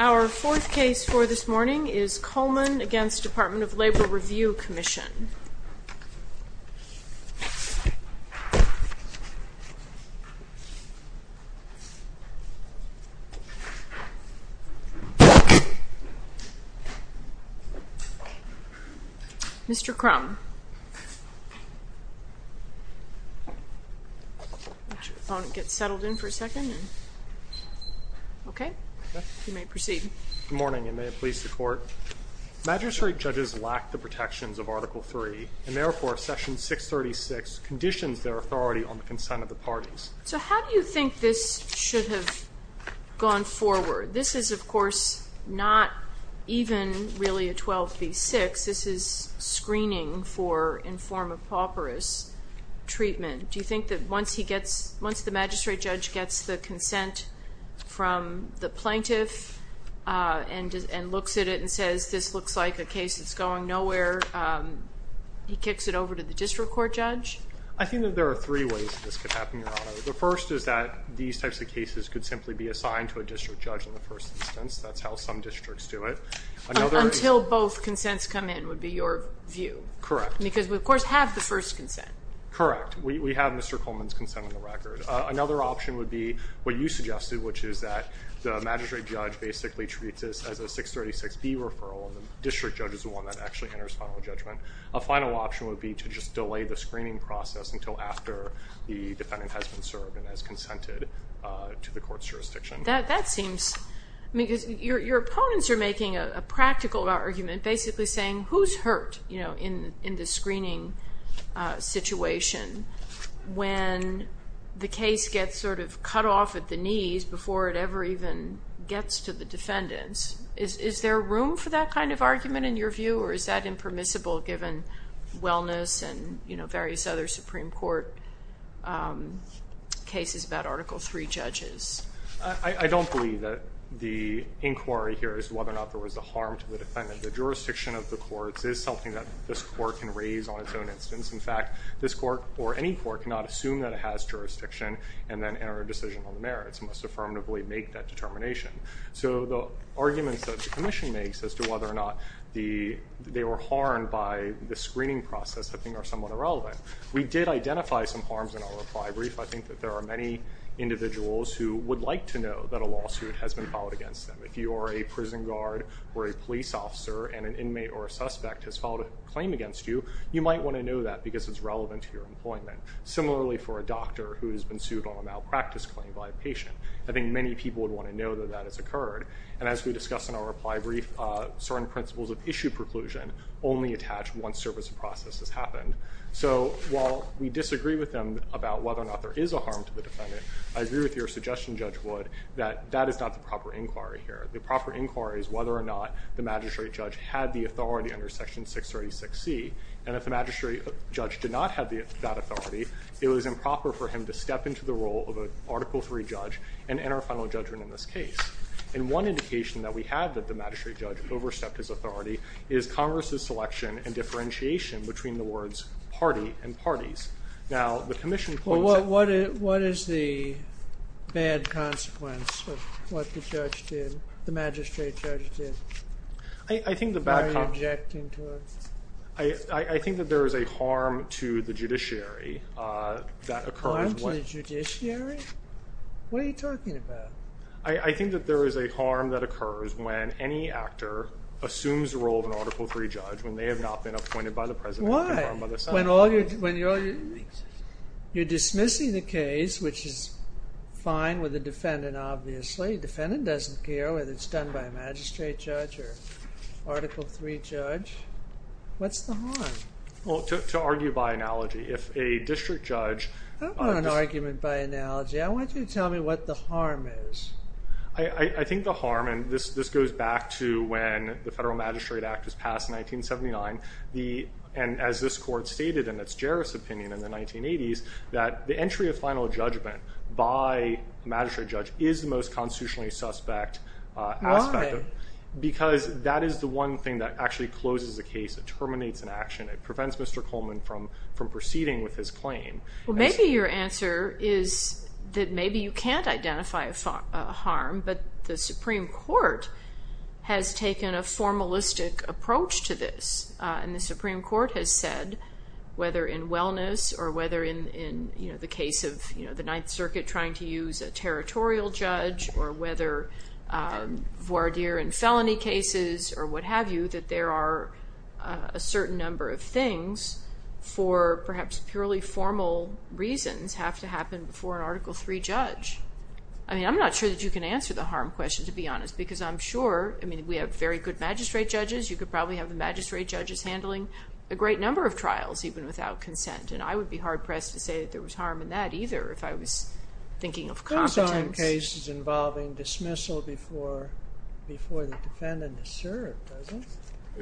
Our fourth case for this morning is Coleman v. Department of Labor Review Commission Mr. Crum Good morning and may it please the Court Magistrate judges lack the protections of Article III and therefore, Session 636 conditions their authority on the consent of the parties The plaintiff looks at it and says this looks like a case that's going nowhere He kicks it over to the district court judge I think that there are three ways this could happen Your Honor The first is that these types of cases could simply be assigned to a district judge in the first instance That's how some districts do it Until both consents come in would be your view Correct Because we of course have the first consent Correct, we have Mr. Coleman's consent on the record Another option would be what you suggested, which is that the magistrate judge basically treats this as a 636B referral And the district judge is the one that actually enters final judgment A final option would be to just delay the screening process until after the defendant has been served and has consented to the court's jurisdiction That seems, because your opponents are making a practical argument Basically saying who's hurt in the screening situation when the case gets sort of cut off at the knees before it ever even gets to the defendants Is there room for that kind of argument in your view or is that impermissible given wellness and various other Supreme Court cases about Article III judges? I don't believe that the inquiry here is whether or not there was a harm to the defendant The jurisdiction of the courts is something that this court can raise on its own instance In fact, this court or any court cannot assume that it has jurisdiction and then enter a decision on the merits It must affirmatively make that determination So the arguments that the commission makes as to whether or not they were harmed by the screening process I think are somewhat irrelevant We did identify some harms in our reply brief I think that there are many individuals who would like to know that a lawsuit has been filed against them If you are a prison guard or a police officer and an inmate or a suspect has filed a claim against you You might want to know that because it's relevant to your employment Similarly for a doctor who has been sued on a malpractice claim by a patient I think many people would want to know that that has occurred And as we discussed in our reply brief, certain principles of issue preclusion only attach once service process has happened So while we disagree with them about whether or not there is a harm to the defendant I agree with your suggestion, Judge Wood, that that is not the proper inquiry here The proper inquiry is whether or not the magistrate judge had the authority under Section 636C And if the magistrate judge did not have that authority It was improper for him to step into the role of an Article III judge and enter a final judgment in this case And one indication that we have that the magistrate judge overstepped his authority Is Congress' selection and differentiation between the words party and parties Now the commission What is the bad consequence of what the magistrate judge did? Why are you objecting to it? I think that there is a harm to the judiciary Harm to the judiciary? What are you talking about? I think that there is a harm that occurs when any actor assumes the role of an Article III judge When they have not been appointed by the president Why? When you're dismissing the case, which is fine with the defendant obviously The defendant doesn't care whether it's done by a magistrate judge or Article III judge What's the harm? Well, to argue by analogy, if a district judge I don't want an argument by analogy, I want you to tell me what the harm is I think the harm, and this goes back to when the Federal Magistrate Act was passed in 1979 And as this court stated in its juris opinion in the 1980s That the entry of final judgment by a magistrate judge is the most constitutionally suspect aspect Why? Because that is the one thing that actually closes a case, it terminates an action It prevents Mr. Coleman from proceeding with his claim Well maybe your answer is that maybe you can't identify a harm But the Supreme Court has taken a formalistic approach to this And the Supreme Court has said, whether in wellness Or whether in the case of the Ninth Circuit trying to use a territorial judge Or whether voir dire in felony cases or what have you I don't think that there are a certain number of things For perhaps purely formal reasons have to happen before an Article III judge I mean I'm not sure that you can answer the harm question to be honest Because I'm sure, I mean we have very good magistrate judges You could probably have the magistrate judges handling a great number of trials Even without consent And I would be hard pressed to say that there was harm in that either If I was thinking of competence Are those cases involving dismissal before the defendant is served?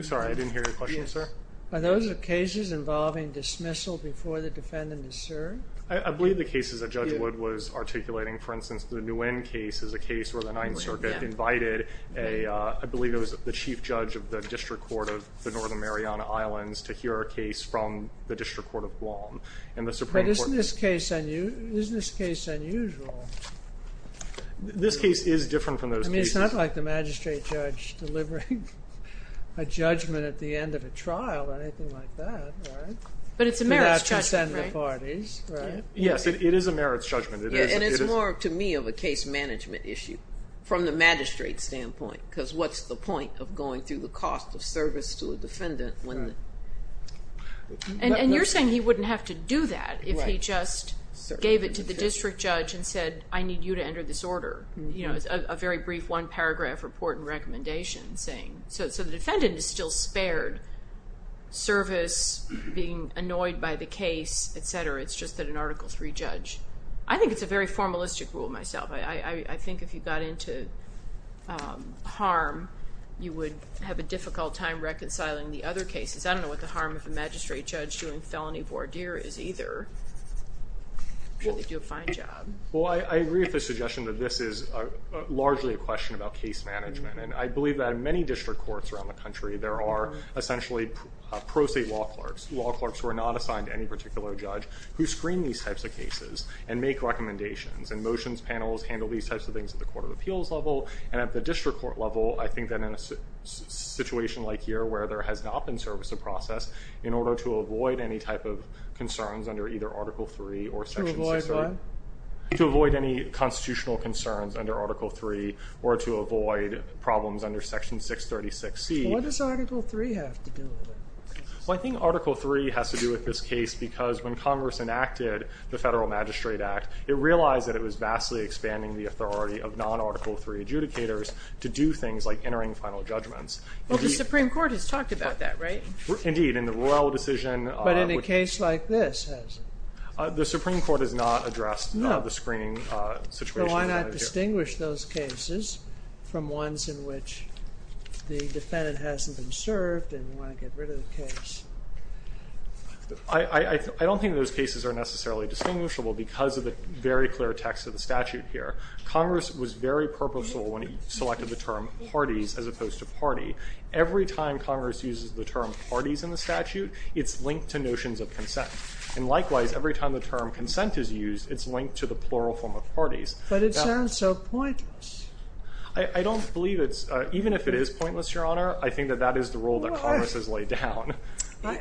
Sorry I didn't hear your question sir Are those cases involving dismissal before the defendant is served? I believe the cases that Judge Wood was articulating For instance the Nguyen case is a case where the Ninth Circuit invited I believe it was the Chief Judge of the District Court of the Northern Mariana Islands To hear a case from the District Court of Guam Isn't this case unusual? This case is different from those cases I mean it's not like the magistrate judge delivering a judgment at the end of a trial Or anything like that right? But it's a merits judgment right? Yes it is a merits judgment And it's more to me of a case management issue From the magistrate standpoint Because what's the point of going through the cost of service to a defendant And you're saying he wouldn't have to do that If he just gave it to the district judge and said I need you to enter this order A very brief one paragraph report and recommendation So the defendant is still spared service Being annoyed by the case etc. It's just that an Article 3 judge I think it's a very formalistic rule myself I think if you got into harm You would have a difficult time reconciling the other cases I don't know what the harm of a magistrate judge doing felony voir dire is either Should they do a fine job? Well I agree with the suggestion that this is largely a question about case management And I believe that in many district courts around the country There are essentially pro se law clerks Law clerks who are not assigned to any particular judge Who screen these types of cases And make recommendations And motions panels handle these types of things at the court of appeals level And at the district court level I think that in a situation like here Where there has not been service of process In order to avoid any type of concerns under either Article 3 To avoid what? To avoid any constitutional concerns under Article 3 Or to avoid problems under Section 636C What does Article 3 have to do with it? Well I think Article 3 has to do with this case Because when Congress enacted the Federal Magistrate Act It realized that it was vastly expanding the authority of non-Article 3 adjudicators To do things like entering final judgments Well the Supreme Court has talked about that, right? Indeed, in the Royal Decision But in a case like this, has it? The Supreme Court has not addressed the screening situation So why not distinguish those cases From ones in which the defendant hasn't been served And you want to get rid of the case? I don't think those cases are necessarily distinguishable Because of the very clear text of the statute here Congress was very purposeful when it selected the term parties As opposed to party Every time Congress uses the term parties in the statute It's linked to notions of consent And likewise, every time the term consent is used It's linked to the plural form of parties But it sounds so pointless I don't believe it's Even if it is pointless, Your Honor I think that that is the rule that Congress has laid down I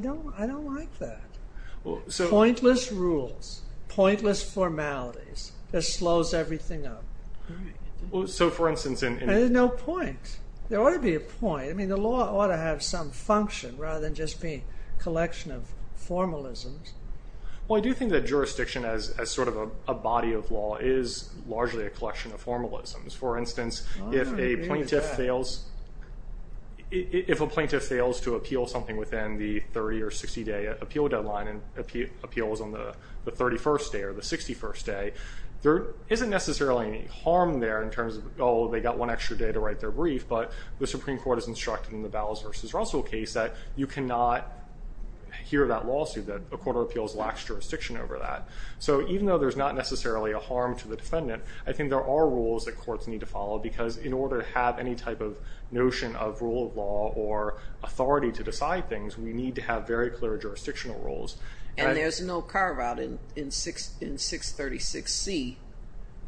don't like that Pointless rules Pointless formalities That slows everything up So for instance There's no point There ought to be a point The law ought to have some function Rather than just be a collection of formalisms Well I do think that jurisdiction As sort of a body of law Is largely a collection of formalisms For instance, if a plaintiff fails If a plaintiff fails to appeal something Within the 30 or 60 day appeal deadline And appeals on the 31st day Or the 61st day There isn't necessarily any harm there In terms of Oh, they got one extra day to write their brief But the Supreme Court has instructed In the Bowles v. Russell case That you cannot hear that lawsuit That a court of appeals lacks jurisdiction over that So even though there's not necessarily a harm to the defendant I think there are rules that courts need to follow Because in order to have any type of Notion of rule of law Or authority to decide things We need to have very clear jurisdictional rules And there's no carve out In 636C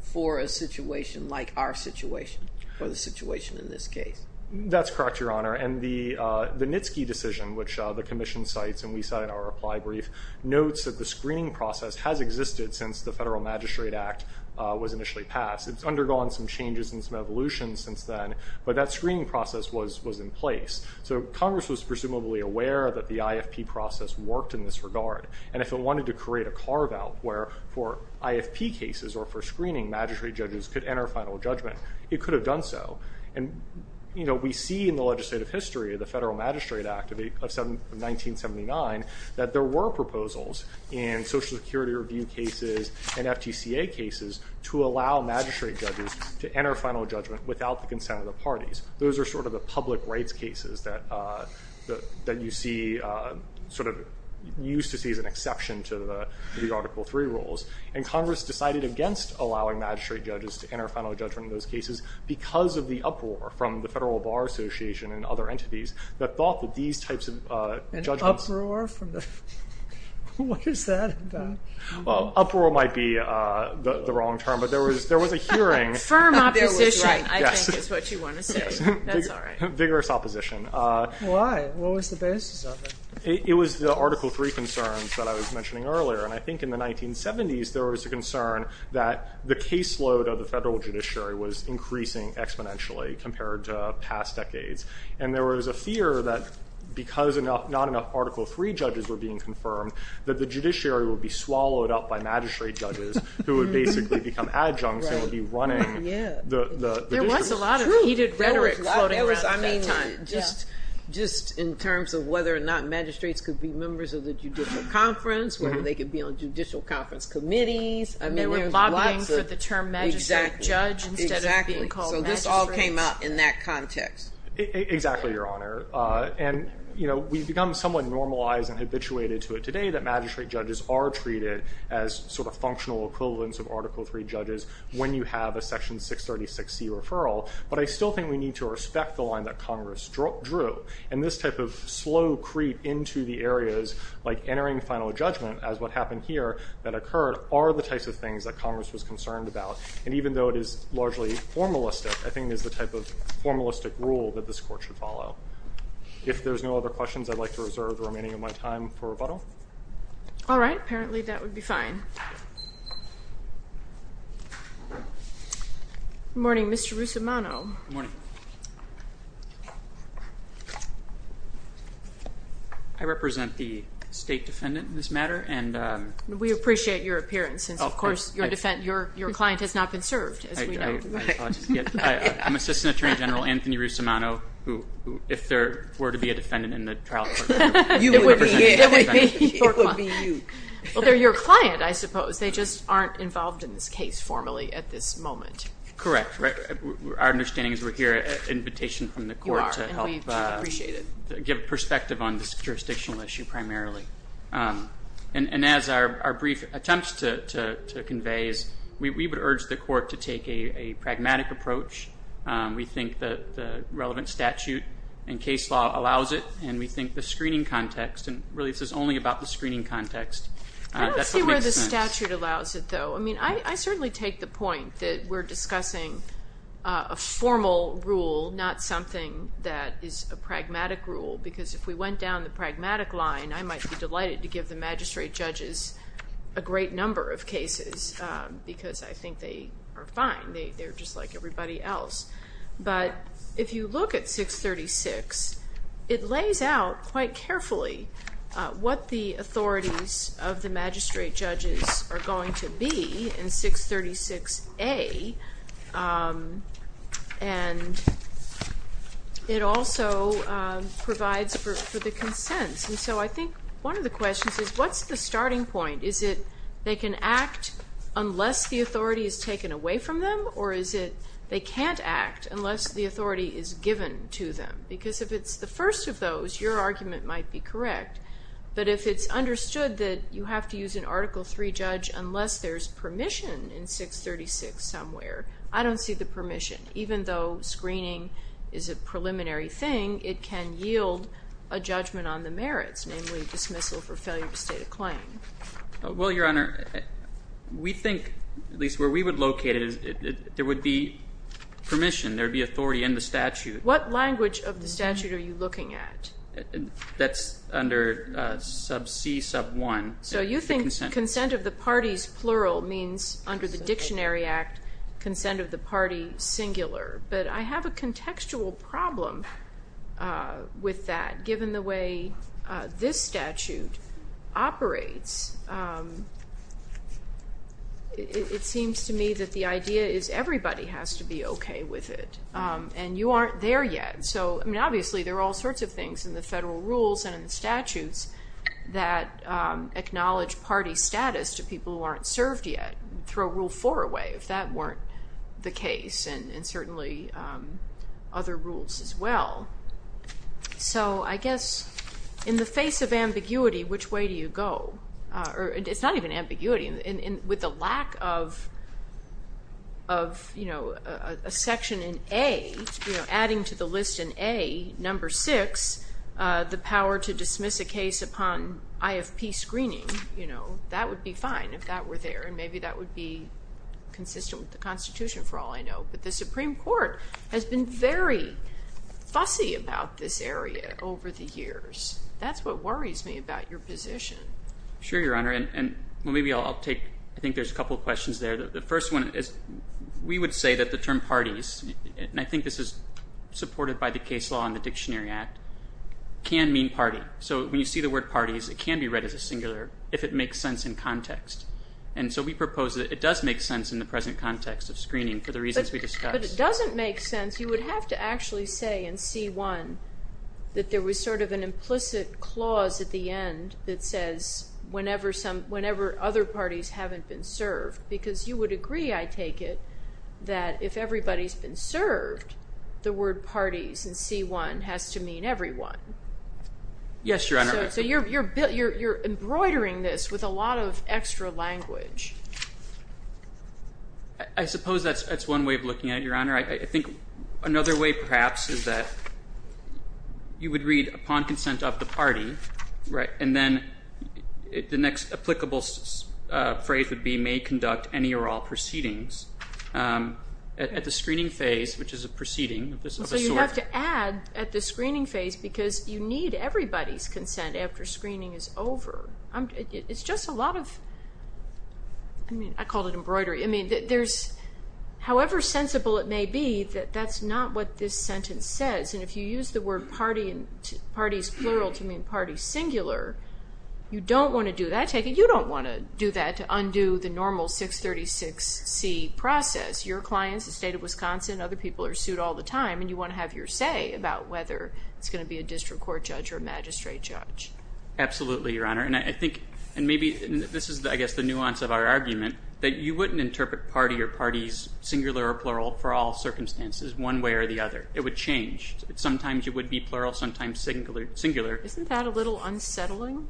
For a situation Like our situation Or the situation in this case That's correct, Your Honor And the Nitzke decision Which the Commission cites, and we cite in our reply brief Notes that the screening process has existed Since the Federal Magistrate Act Was initially passed It's undergone some changes and some evolutions since then But that screening process was in place So Congress was presumably aware That the IFP process worked in this regard And if it wanted to create a carve out Where for IFP cases Or for screening, magistrate judges Could enter final judgment It could have done so And we see in the legislative history Of the Federal Magistrate Act of 1979 That there were proposals In Social Security review cases And FTCA cases To allow magistrate judges To enter final judgment without the consent of the parties Those are sort of the public rights cases That you see Sort of Used to see as an exception to the Article 3 rules And Congress decided against allowing magistrate judges To enter final judgment in those cases Because of the uproar from the Federal Bar Association And other entities That thought that these types of judgments An uproar? What is that about? Well, uproar might be the wrong term But there was a hearing Firm opposition, I think is what you want to say Vigorous opposition Why? What was the basis of it? It was the Article 3 concerns That I was mentioning earlier And I think in the 1970s there was a concern That the caseload of the federal judiciary Was increasing exponentially Compared to past decades And there was a fear that Because not enough Article 3 judges Were being confirmed That the judiciary would be swallowed up by magistrate judges Who would basically become adjuncts And would be running the There was a lot of heated rhetoric Floating around at that time Just in terms of whether or not magistrates Could be members of the judicial conference Whether they could be on judicial conference committees And there was lobbying For the term magistrate judge Instead of being called magistrate So this all came up in that context Exactly, Your Honor And we've become somewhat normalized And habituated to it today that magistrate judges Are treated as sort of functional equivalents Of Article 3 judges When you have a Section 636C referral But I still think we need to respect The line that Congress drew And this type of slow creep Into the areas like entering Final judgment as what happened here That occurred are the types of things That Congress was concerned about And even though it is largely formalistic I think it is the type of formalistic rule That this court should follow If there are no other questions I'd like to reserve the remaining of my time For rebuttal All right, apparently that would be fine Good morning, Mr. Russomano Good morning I represent the State Defendant in this matter We appreciate your appearance Since of course your client Has not been served I'm Assistant Attorney General Anthony Russomano If there were to be a defendant In the trial court It would be you Well they're your client I suppose They just aren't involved in this case formally At this moment Correct, our understanding is we're here At invitation from the court To help give perspective On this jurisdictional issue primarily And as our Brief attempts to convey We would urge the court To take a pragmatic approach We think the Relevant statute and case law Allows it and we think the screening context And really this is only about the screening context I don't see where the statute Allows it though, I mean I certainly Take the point that we're discussing A formal rule Not something that is A pragmatic rule because if we went Down the pragmatic line I might be Delighted to give the magistrate judges A great number of cases Because I think they are Fine, they're just like everybody else But if you look at 636 It lays out quite carefully What the authorities Of the magistrate judges Are going to be in 636 A And It also Provides for the Consents and so I think one of the Questions is what's the starting point Is it they can act Unless the authority is taken Away from them or is it they can't Act unless the authority is Given to them because if it's the First of those your argument might be correct But if it's understood That you have to use an article 3 Judge unless there's permission In 636 somewhere I don't see the permission even though Screening is a preliminary Thing it can yield A judgment on the merits namely Dismissal for failure to state a claim Well your honor We think at least where we would locate It there would be Permission there would be authority in the statute What language of the statute are you looking At that's Under sub c sub 1 so you think consent of the Parties plural means under The dictionary act consent of The party singular but I Have a contextual problem With that given The way this statute Operates It seems to me that the idea Is everybody has to be okay with It and you aren't there yet So I mean obviously there are all sorts of things In the federal rules and in the statutes That Acknowledge party status to people who Aren't served yet throw rule 4 Away if that weren't the case And certainly Other rules as well So I guess In the face of ambiguity Which way do you go It's not even ambiguity with the Lack of Of you know a section In A adding to the List in A number 6 The power to dismiss A case upon IFP screening You know that would be fine If that were there and maybe that would be Consistent with the constitution for all I Know but the supreme court has been Very fussy About this area over the years That's what worries me about your position Sure your honor And maybe I'll take I think there's a couple questions there The first one is we would say that the term parties And I think this is Supported by the case law and the dictionary act Can mean party So when you see the word parties it can be read as a singular If it makes sense in context And so we propose that it does make sense In the present context of screening For the reasons we discussed But if it doesn't make sense you would have to Actually say in C1 That there was sort of an implicit Clause at the end that says Whenever other Parties haven't been served Because you would agree I take it That if everybody's been served The word parties in C1 Has to mean everyone Yes your honor So you're embroidering this With a lot of extra language I suppose That's one way of looking at it your honor I think another way perhaps Is that You would read upon consent of the party And then The next applicable Phrase would be may conduct any or all Proceedings At the screening phase which is a proceeding So you have to add At the screening phase because you need Everybody's consent after screening Is over It's just a lot of I mean I call it Embroidery I mean there's However sensible it may be that That's not what this sentence says And if you use the word parties Plural to mean parties singular You don't want to do that I take it you don't want to do that to undo The normal 636C Process your clients the state of Wisconsin And other people are sued all the time And you want to have your say about whether It's going to be a district court judge or magistrate judge Absolutely your honor and I think And maybe this is I guess the nuance Of our argument that you wouldn't interpret Party or parties singular or plural For all circumstances one way or the other It would change sometimes it would Be plural sometimes singular Isn't that a little unsettling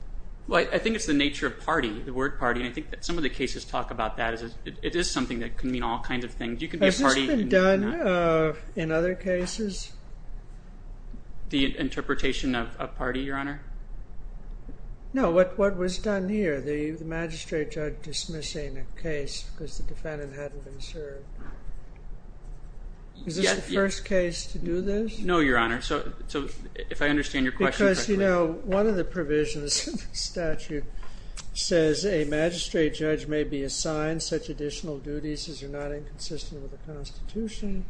Well I think it's the nature of party the word Party and I think that some of the cases talk about that It is something that can mean all kinds of Things you could be party In other cases The interpretation Of party your honor No what was done here The magistrate judge dismissing A case because the defendant hadn't Been served Is this the first case To do this no your honor so If I understand your question One of the provisions of the statute Says a magistrate Judge may be assigned such additional Duties as are not inconsistent With the constitution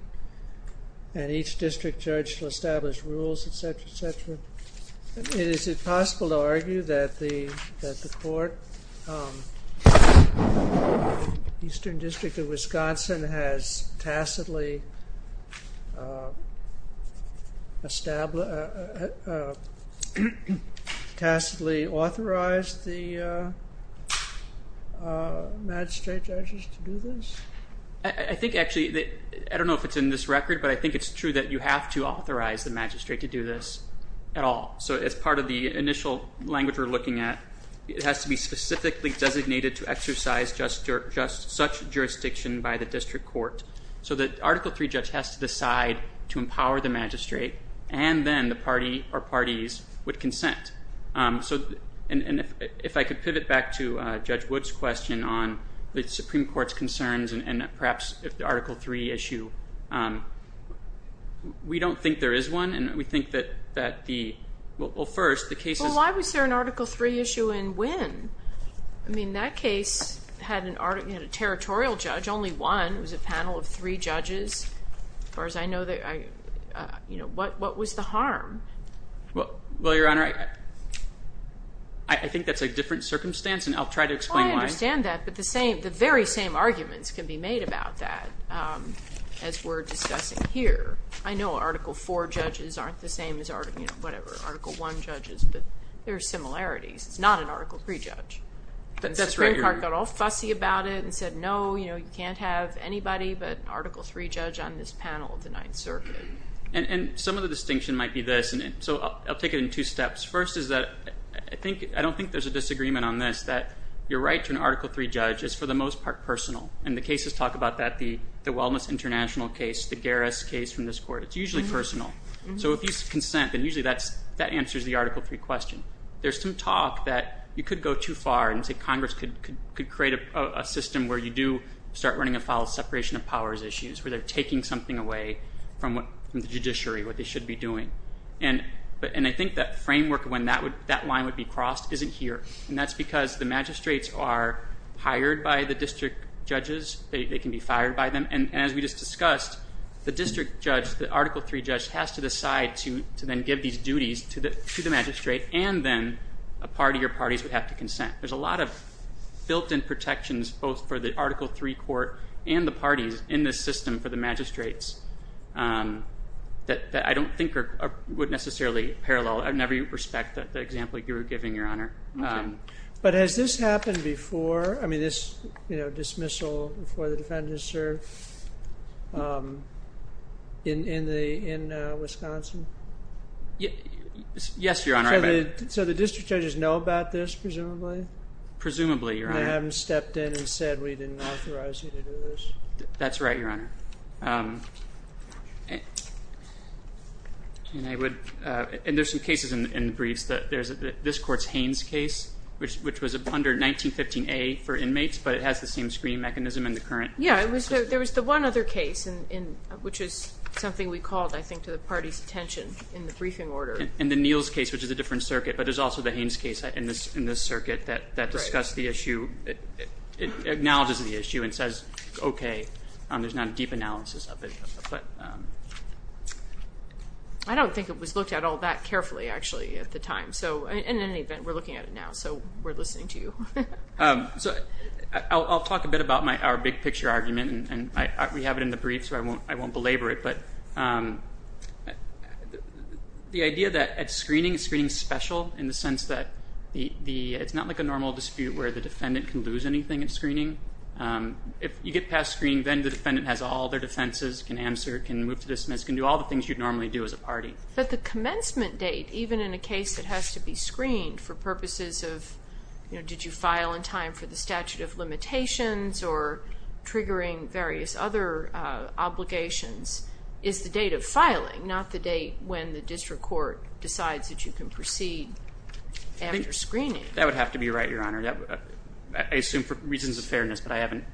And each district judge shall establish Rules etc etc Is it possible to argue that The court Eastern district of Wisconsin Has tacitly Established Tacitly authorized the Magistrate judges to do this I think actually I don't know if it's in this record but I think it's True that you have to authorize the magistrate To do this at all so it's Part of the initial language we're looking At it has to be specifically Designated to exercise just Such jurisdiction by the district Court so that article 3 judge Has to decide to empower the magistrate And then the party Or parties would consent So and if I could Pivot back to judge woods question On the supreme court's concerns And perhaps if the article 3 Issue We don't think there is one and we Think that the Well first the case is Well why was there an article 3 issue and when I mean that case had A territorial judge only one Was a panel of three judges As far as I know What was the harm Well your honor I think that's a different Circumstance and I'll try to explain why I understand that but the very same arguments Can be made about that As we're discussing here I know article 4 judges aren't The same as article 1 judges But there are similarities It's not an article 3 judge The supreme court got all fussy about it And said no you can't have anybody But an article 3 judge on this Panel of the 9th circuit And some of the distinction might be this I'll take it in two steps first is that I don't think there's a disagreement On this that your right to an article 3 Judge is for the most part personal And the cases talk about that the wellness international Case the Garris case from this court It's usually personal so if you Consent then usually that answers the article 3 question there's some talk that You could go too far and say congress Could create a system where You do start running afoul of separation Of powers issues where they're taking something away From the judiciary What they should be doing And I think that framework when that line Would be crossed isn't here and that's because The magistrates are hired By the district judges They can be fired by them and as we just discussed The district judge the article 3 judge has to decide to Then give these duties to the magistrate And then a party or parties Would have to consent there's a lot of Built in protections both for the Article 3 court and the parties In this system for the magistrates That I don't Think would necessarily parallel In every respect the example you were Giving your honor but has this Happened before I mean this You know dismissal before the defendant Is served In the Wisconsin Yes your honor So the district judges know about this presumably Presumably your honor They haven't stepped in and said we didn't authorize You to do this that's right your honor And I would and there's some cases In the briefs that there's this court's Haynes case which was under 1915a for inmates but it has The same screening mechanism in the current There was the one other case Which is something we called I think To the party's attention in the briefing order In the Neal's case which is a different circuit But there's also the Haynes case in this Circuit that discussed the issue It acknowledges the issue And says okay there's not A deep analysis of it but I don't Think it was looked at all that carefully Actually at the time so in any event We're looking at it now so we're listening to you So I'll Talk a bit about my our big picture argument And we have it in the brief so I won't Belabor it but The Idea that at screening screening special In the sense that the It's not like a normal dispute where the defendant can Lose anything in screening If you get past screening then the defendant has All their defenses can answer can move To dismiss can do all the things you'd normally do as a party But the commencement date even In a case that has to be screened for Purposes of you know did you File in time for the statute of limitations Or triggering Various other obligations Is the date of filing Not the date when the district court Decides that you can proceed After screening That would have to be right your honor I assume for reasons of fairness but I haven't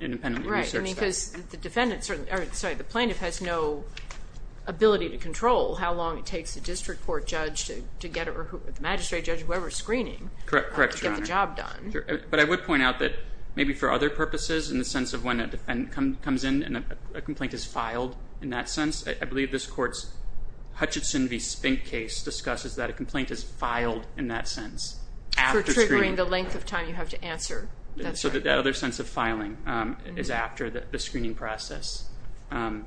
Independent right because the Defendants are sorry the plaintiff has no Ability to control How long it takes the district court judge To get a magistrate judge whoever Screening correct correct job done But I would point out that maybe For other purposes in the sense of when a Defendant comes in and a complaint is Filed in that sense I believe this Court's Hutchinson v. Spink case discusses that a complaint is Filed in that sense Triggering the length of time you have to answer So that other sense of filing Is after the screening process And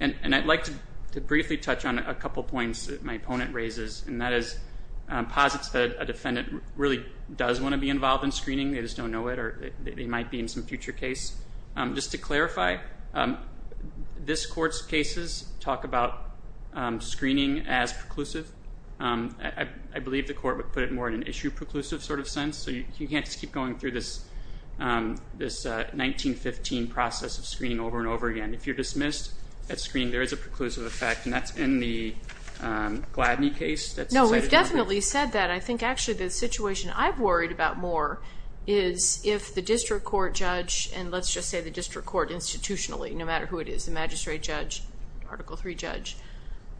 I'd Like to briefly touch on a couple Points that my opponent raises and that is Posits that a defendant Really does want to be involved in screening They just don't know it or they might be in Some future case just to clarify This Court's cases talk about Screening as preclusive I believe the court Would put it more in an issue preclusive sort of sense So you can't just keep going through this This 1915 Process of screening over and over again If you're dismissed at screening there is a Preclusive effect and that's in the Gladney case No we've definitely said that I think actually the Situation I've worried about more Is if the district court judge And let's just say the district court Institutionally no matter who it is the magistrate judge Article 3 judge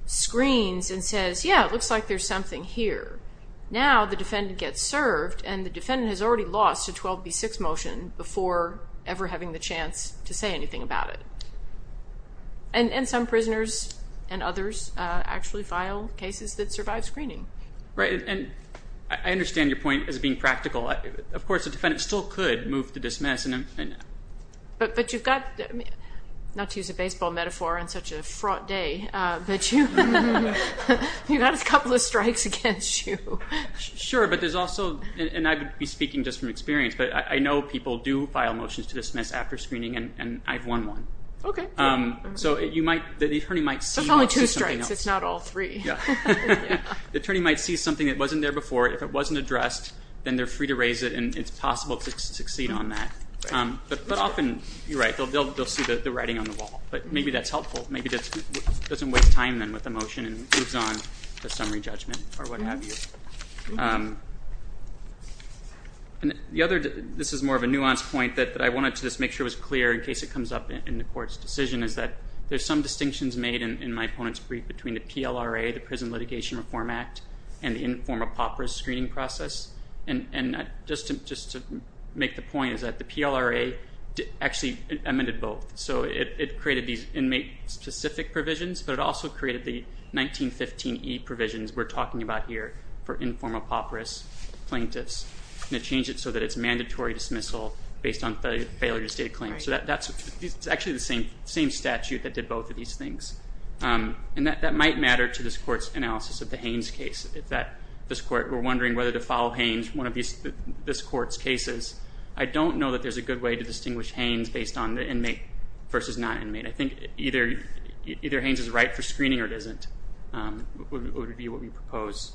Screens and says yeah It looks like there's something here Now the defendant gets served And the defendant has already lost a 12b6 Motion before ever Having the chance to say anything about it And some Prisoners and others Actually file cases that survive screening Right and I Understand your point as being practical Of course the defendant still could move to dismiss But you've Got not to use a baseball Metaphor on such a fraught day But you You've got a couple of Strikes against you Sure but there's also and I would be Speaking just from experience but I know people Do file motions to dismiss after screening And I've won one So you might the attorney might see There's only two strikes it's not all three The attorney might see something That wasn't there before if it wasn't addressed Then they're free to raise it and it's possible To succeed on that But often you're right they'll see The writing on the wall but maybe that's helpful Maybe that doesn't waste time then With the motion and moves on to summary Judgment or what have you And the other this is more of a nuance Point that I wanted to just make sure was clear In case it comes up in the court's decision Is that there's some distinctions made In my opponent's brief between the PLRA The Prison Litigation Reform Act And the informal POPRIS screening process And just to Make the point is that the PLRA Actually amended both So it created these inmate Specific provisions but it also created the 1915 E provisions We're talking about here for informal POPRIS Plaintiffs And it changed it so that it's mandatory dismissal Based on failure to state a claim So that's actually the same Statute that did both of these things And that might matter to this court's Analysis of the Haynes case This court were wondering whether to follow Haynes One of this court's cases I don't know that there's a good way to Versus not inmate. I think either Haynes is right for screening or it isn't Would be what we Propose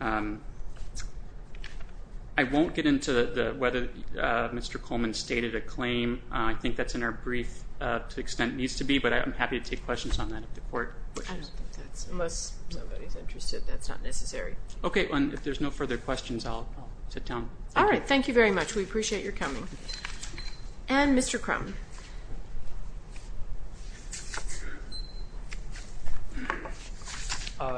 I won't Get into whether Mr. Coleman stated a claim I think that's in our brief to the extent it needs To be but I'm happy to take questions on that if the Court wishes. I don't think that's unless Nobody's interested that's not necessary Okay if there's no further questions I'll Sit down. Alright thank you very much We appreciate your coming And Mr. Crum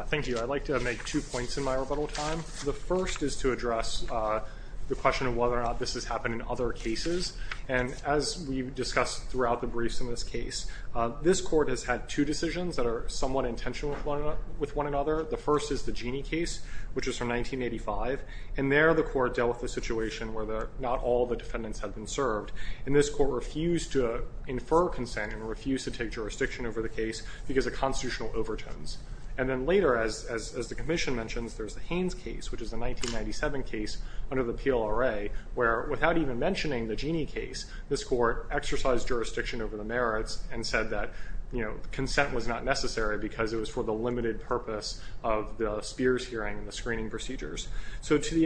Thank you I'd like to make two points in my rebuttal Time. The first is to address The question of whether or not this Has happened in other cases and As we've discussed throughout the briefs In this case this court has had Two decisions that are somewhat intentional With one another. The first is the Jeanne case which is from 1985 And there the court dealt with the situation Where not all the defendants had been served And this court refused to Infer consent and refused to take jurisdiction Over the case because of constitutional Overtones and then later as The commission mentions there's the Haynes case Which is the 1997 case Under the PLRA where without even Mentioning the Jeanne case this court Exercised jurisdiction over the merits And said that you know consent Was not necessary because it was for the limited Purpose of the Spears hearing And the screening procedures. So to the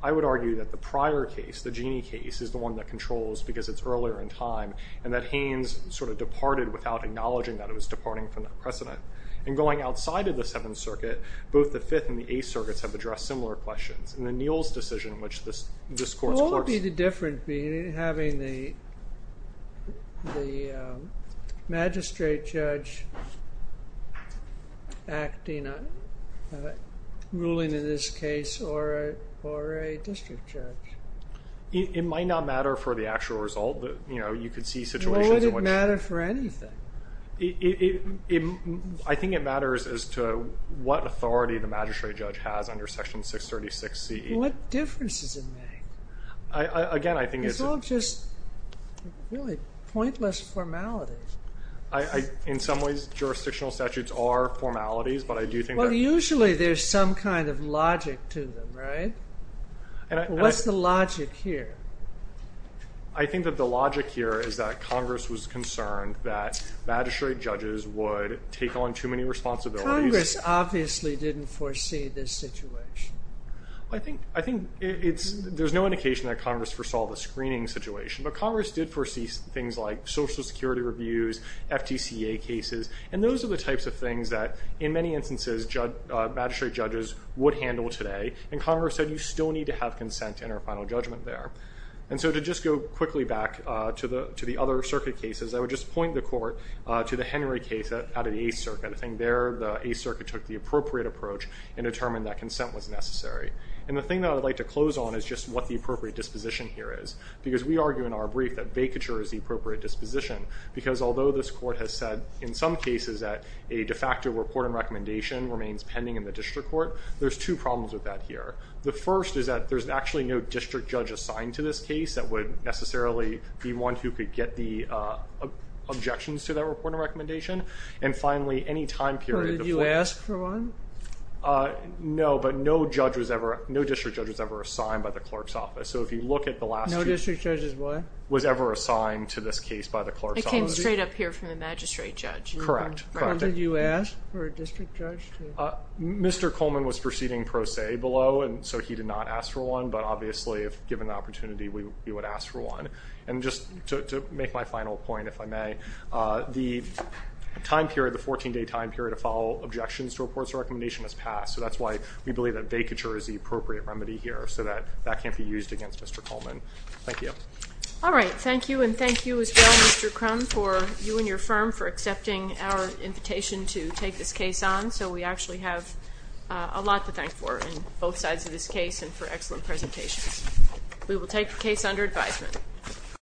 I would argue that the prior Case, the Jeanne case is the one that controls Because it's earlier in time and that Haynes sort of departed without Acknowledging that it was departing from the precedent And going outside of the Seventh Circuit Both the Fifth and the Eighth Circuits have addressed Similar questions and then Neal's decision Which this court's courts Would be different having the Magistrate judge Acting As a Ruling in this case or A district judge It might not matter for the actual result You know you could see situations It wouldn't matter for anything I think it matters As to what authority The magistrate judge has under section 636C What differences it makes Again I think It's all just Pointless formalities In some ways jurisdictional Statutes are formalities but I do think Usually there's some kind of Logic to them right What's the logic here I think that the Logic here is that Congress was concerned That magistrate judges Would take on too many responsibilities Congress obviously didn't foresee This situation I think There's no indication that Congress foresaw the screening Situation but Congress did foresee things Like social security reviews FTCA cases And those are the types of things that in many instances Magistrate judges Would handle today and Congress said You still need to have consent in our final judgment there And so to just go quickly back To the other circuit cases I would just point the court To the Henry case out of the 8th circuit I think there the 8th circuit took the appropriate approach And determined that consent was necessary And the thing that I'd like to close on Is just what the appropriate disposition here is Because we argue in our brief that vacature Is the appropriate disposition Because although this court has said in some cases That a de facto report and recommendation Remains pending in the district court There's two problems with that here The first is that there's actually no district judge Assigned to this case that would necessarily Be one who could get the Objections to that report and recommendation And finally any time period Did you ask for one No but no judge Was ever, no district judge was ever assigned By the clerk's office so if you look at the last No district judge was ever assigned To this case by the clerk's office It came straight up here from the magistrate judge Correct How did you ask for a district judge Mr. Coleman was proceeding pro se below And so he did not ask for one But obviously if given the opportunity We would ask for one And just to make my final point if I may The time period, the 14 day time period To follow objections to reports and recommendations Has passed so that's why we believe That vacature is the appropriate remedy here So that can't be used against Mr. Coleman Thank you Alright thank you and thank you as well Mr. Crum For you and your firm for accepting Our invitation to take this case on So we actually have A lot to thank for on both sides of this case And for excellent presentations We will take the case under advisement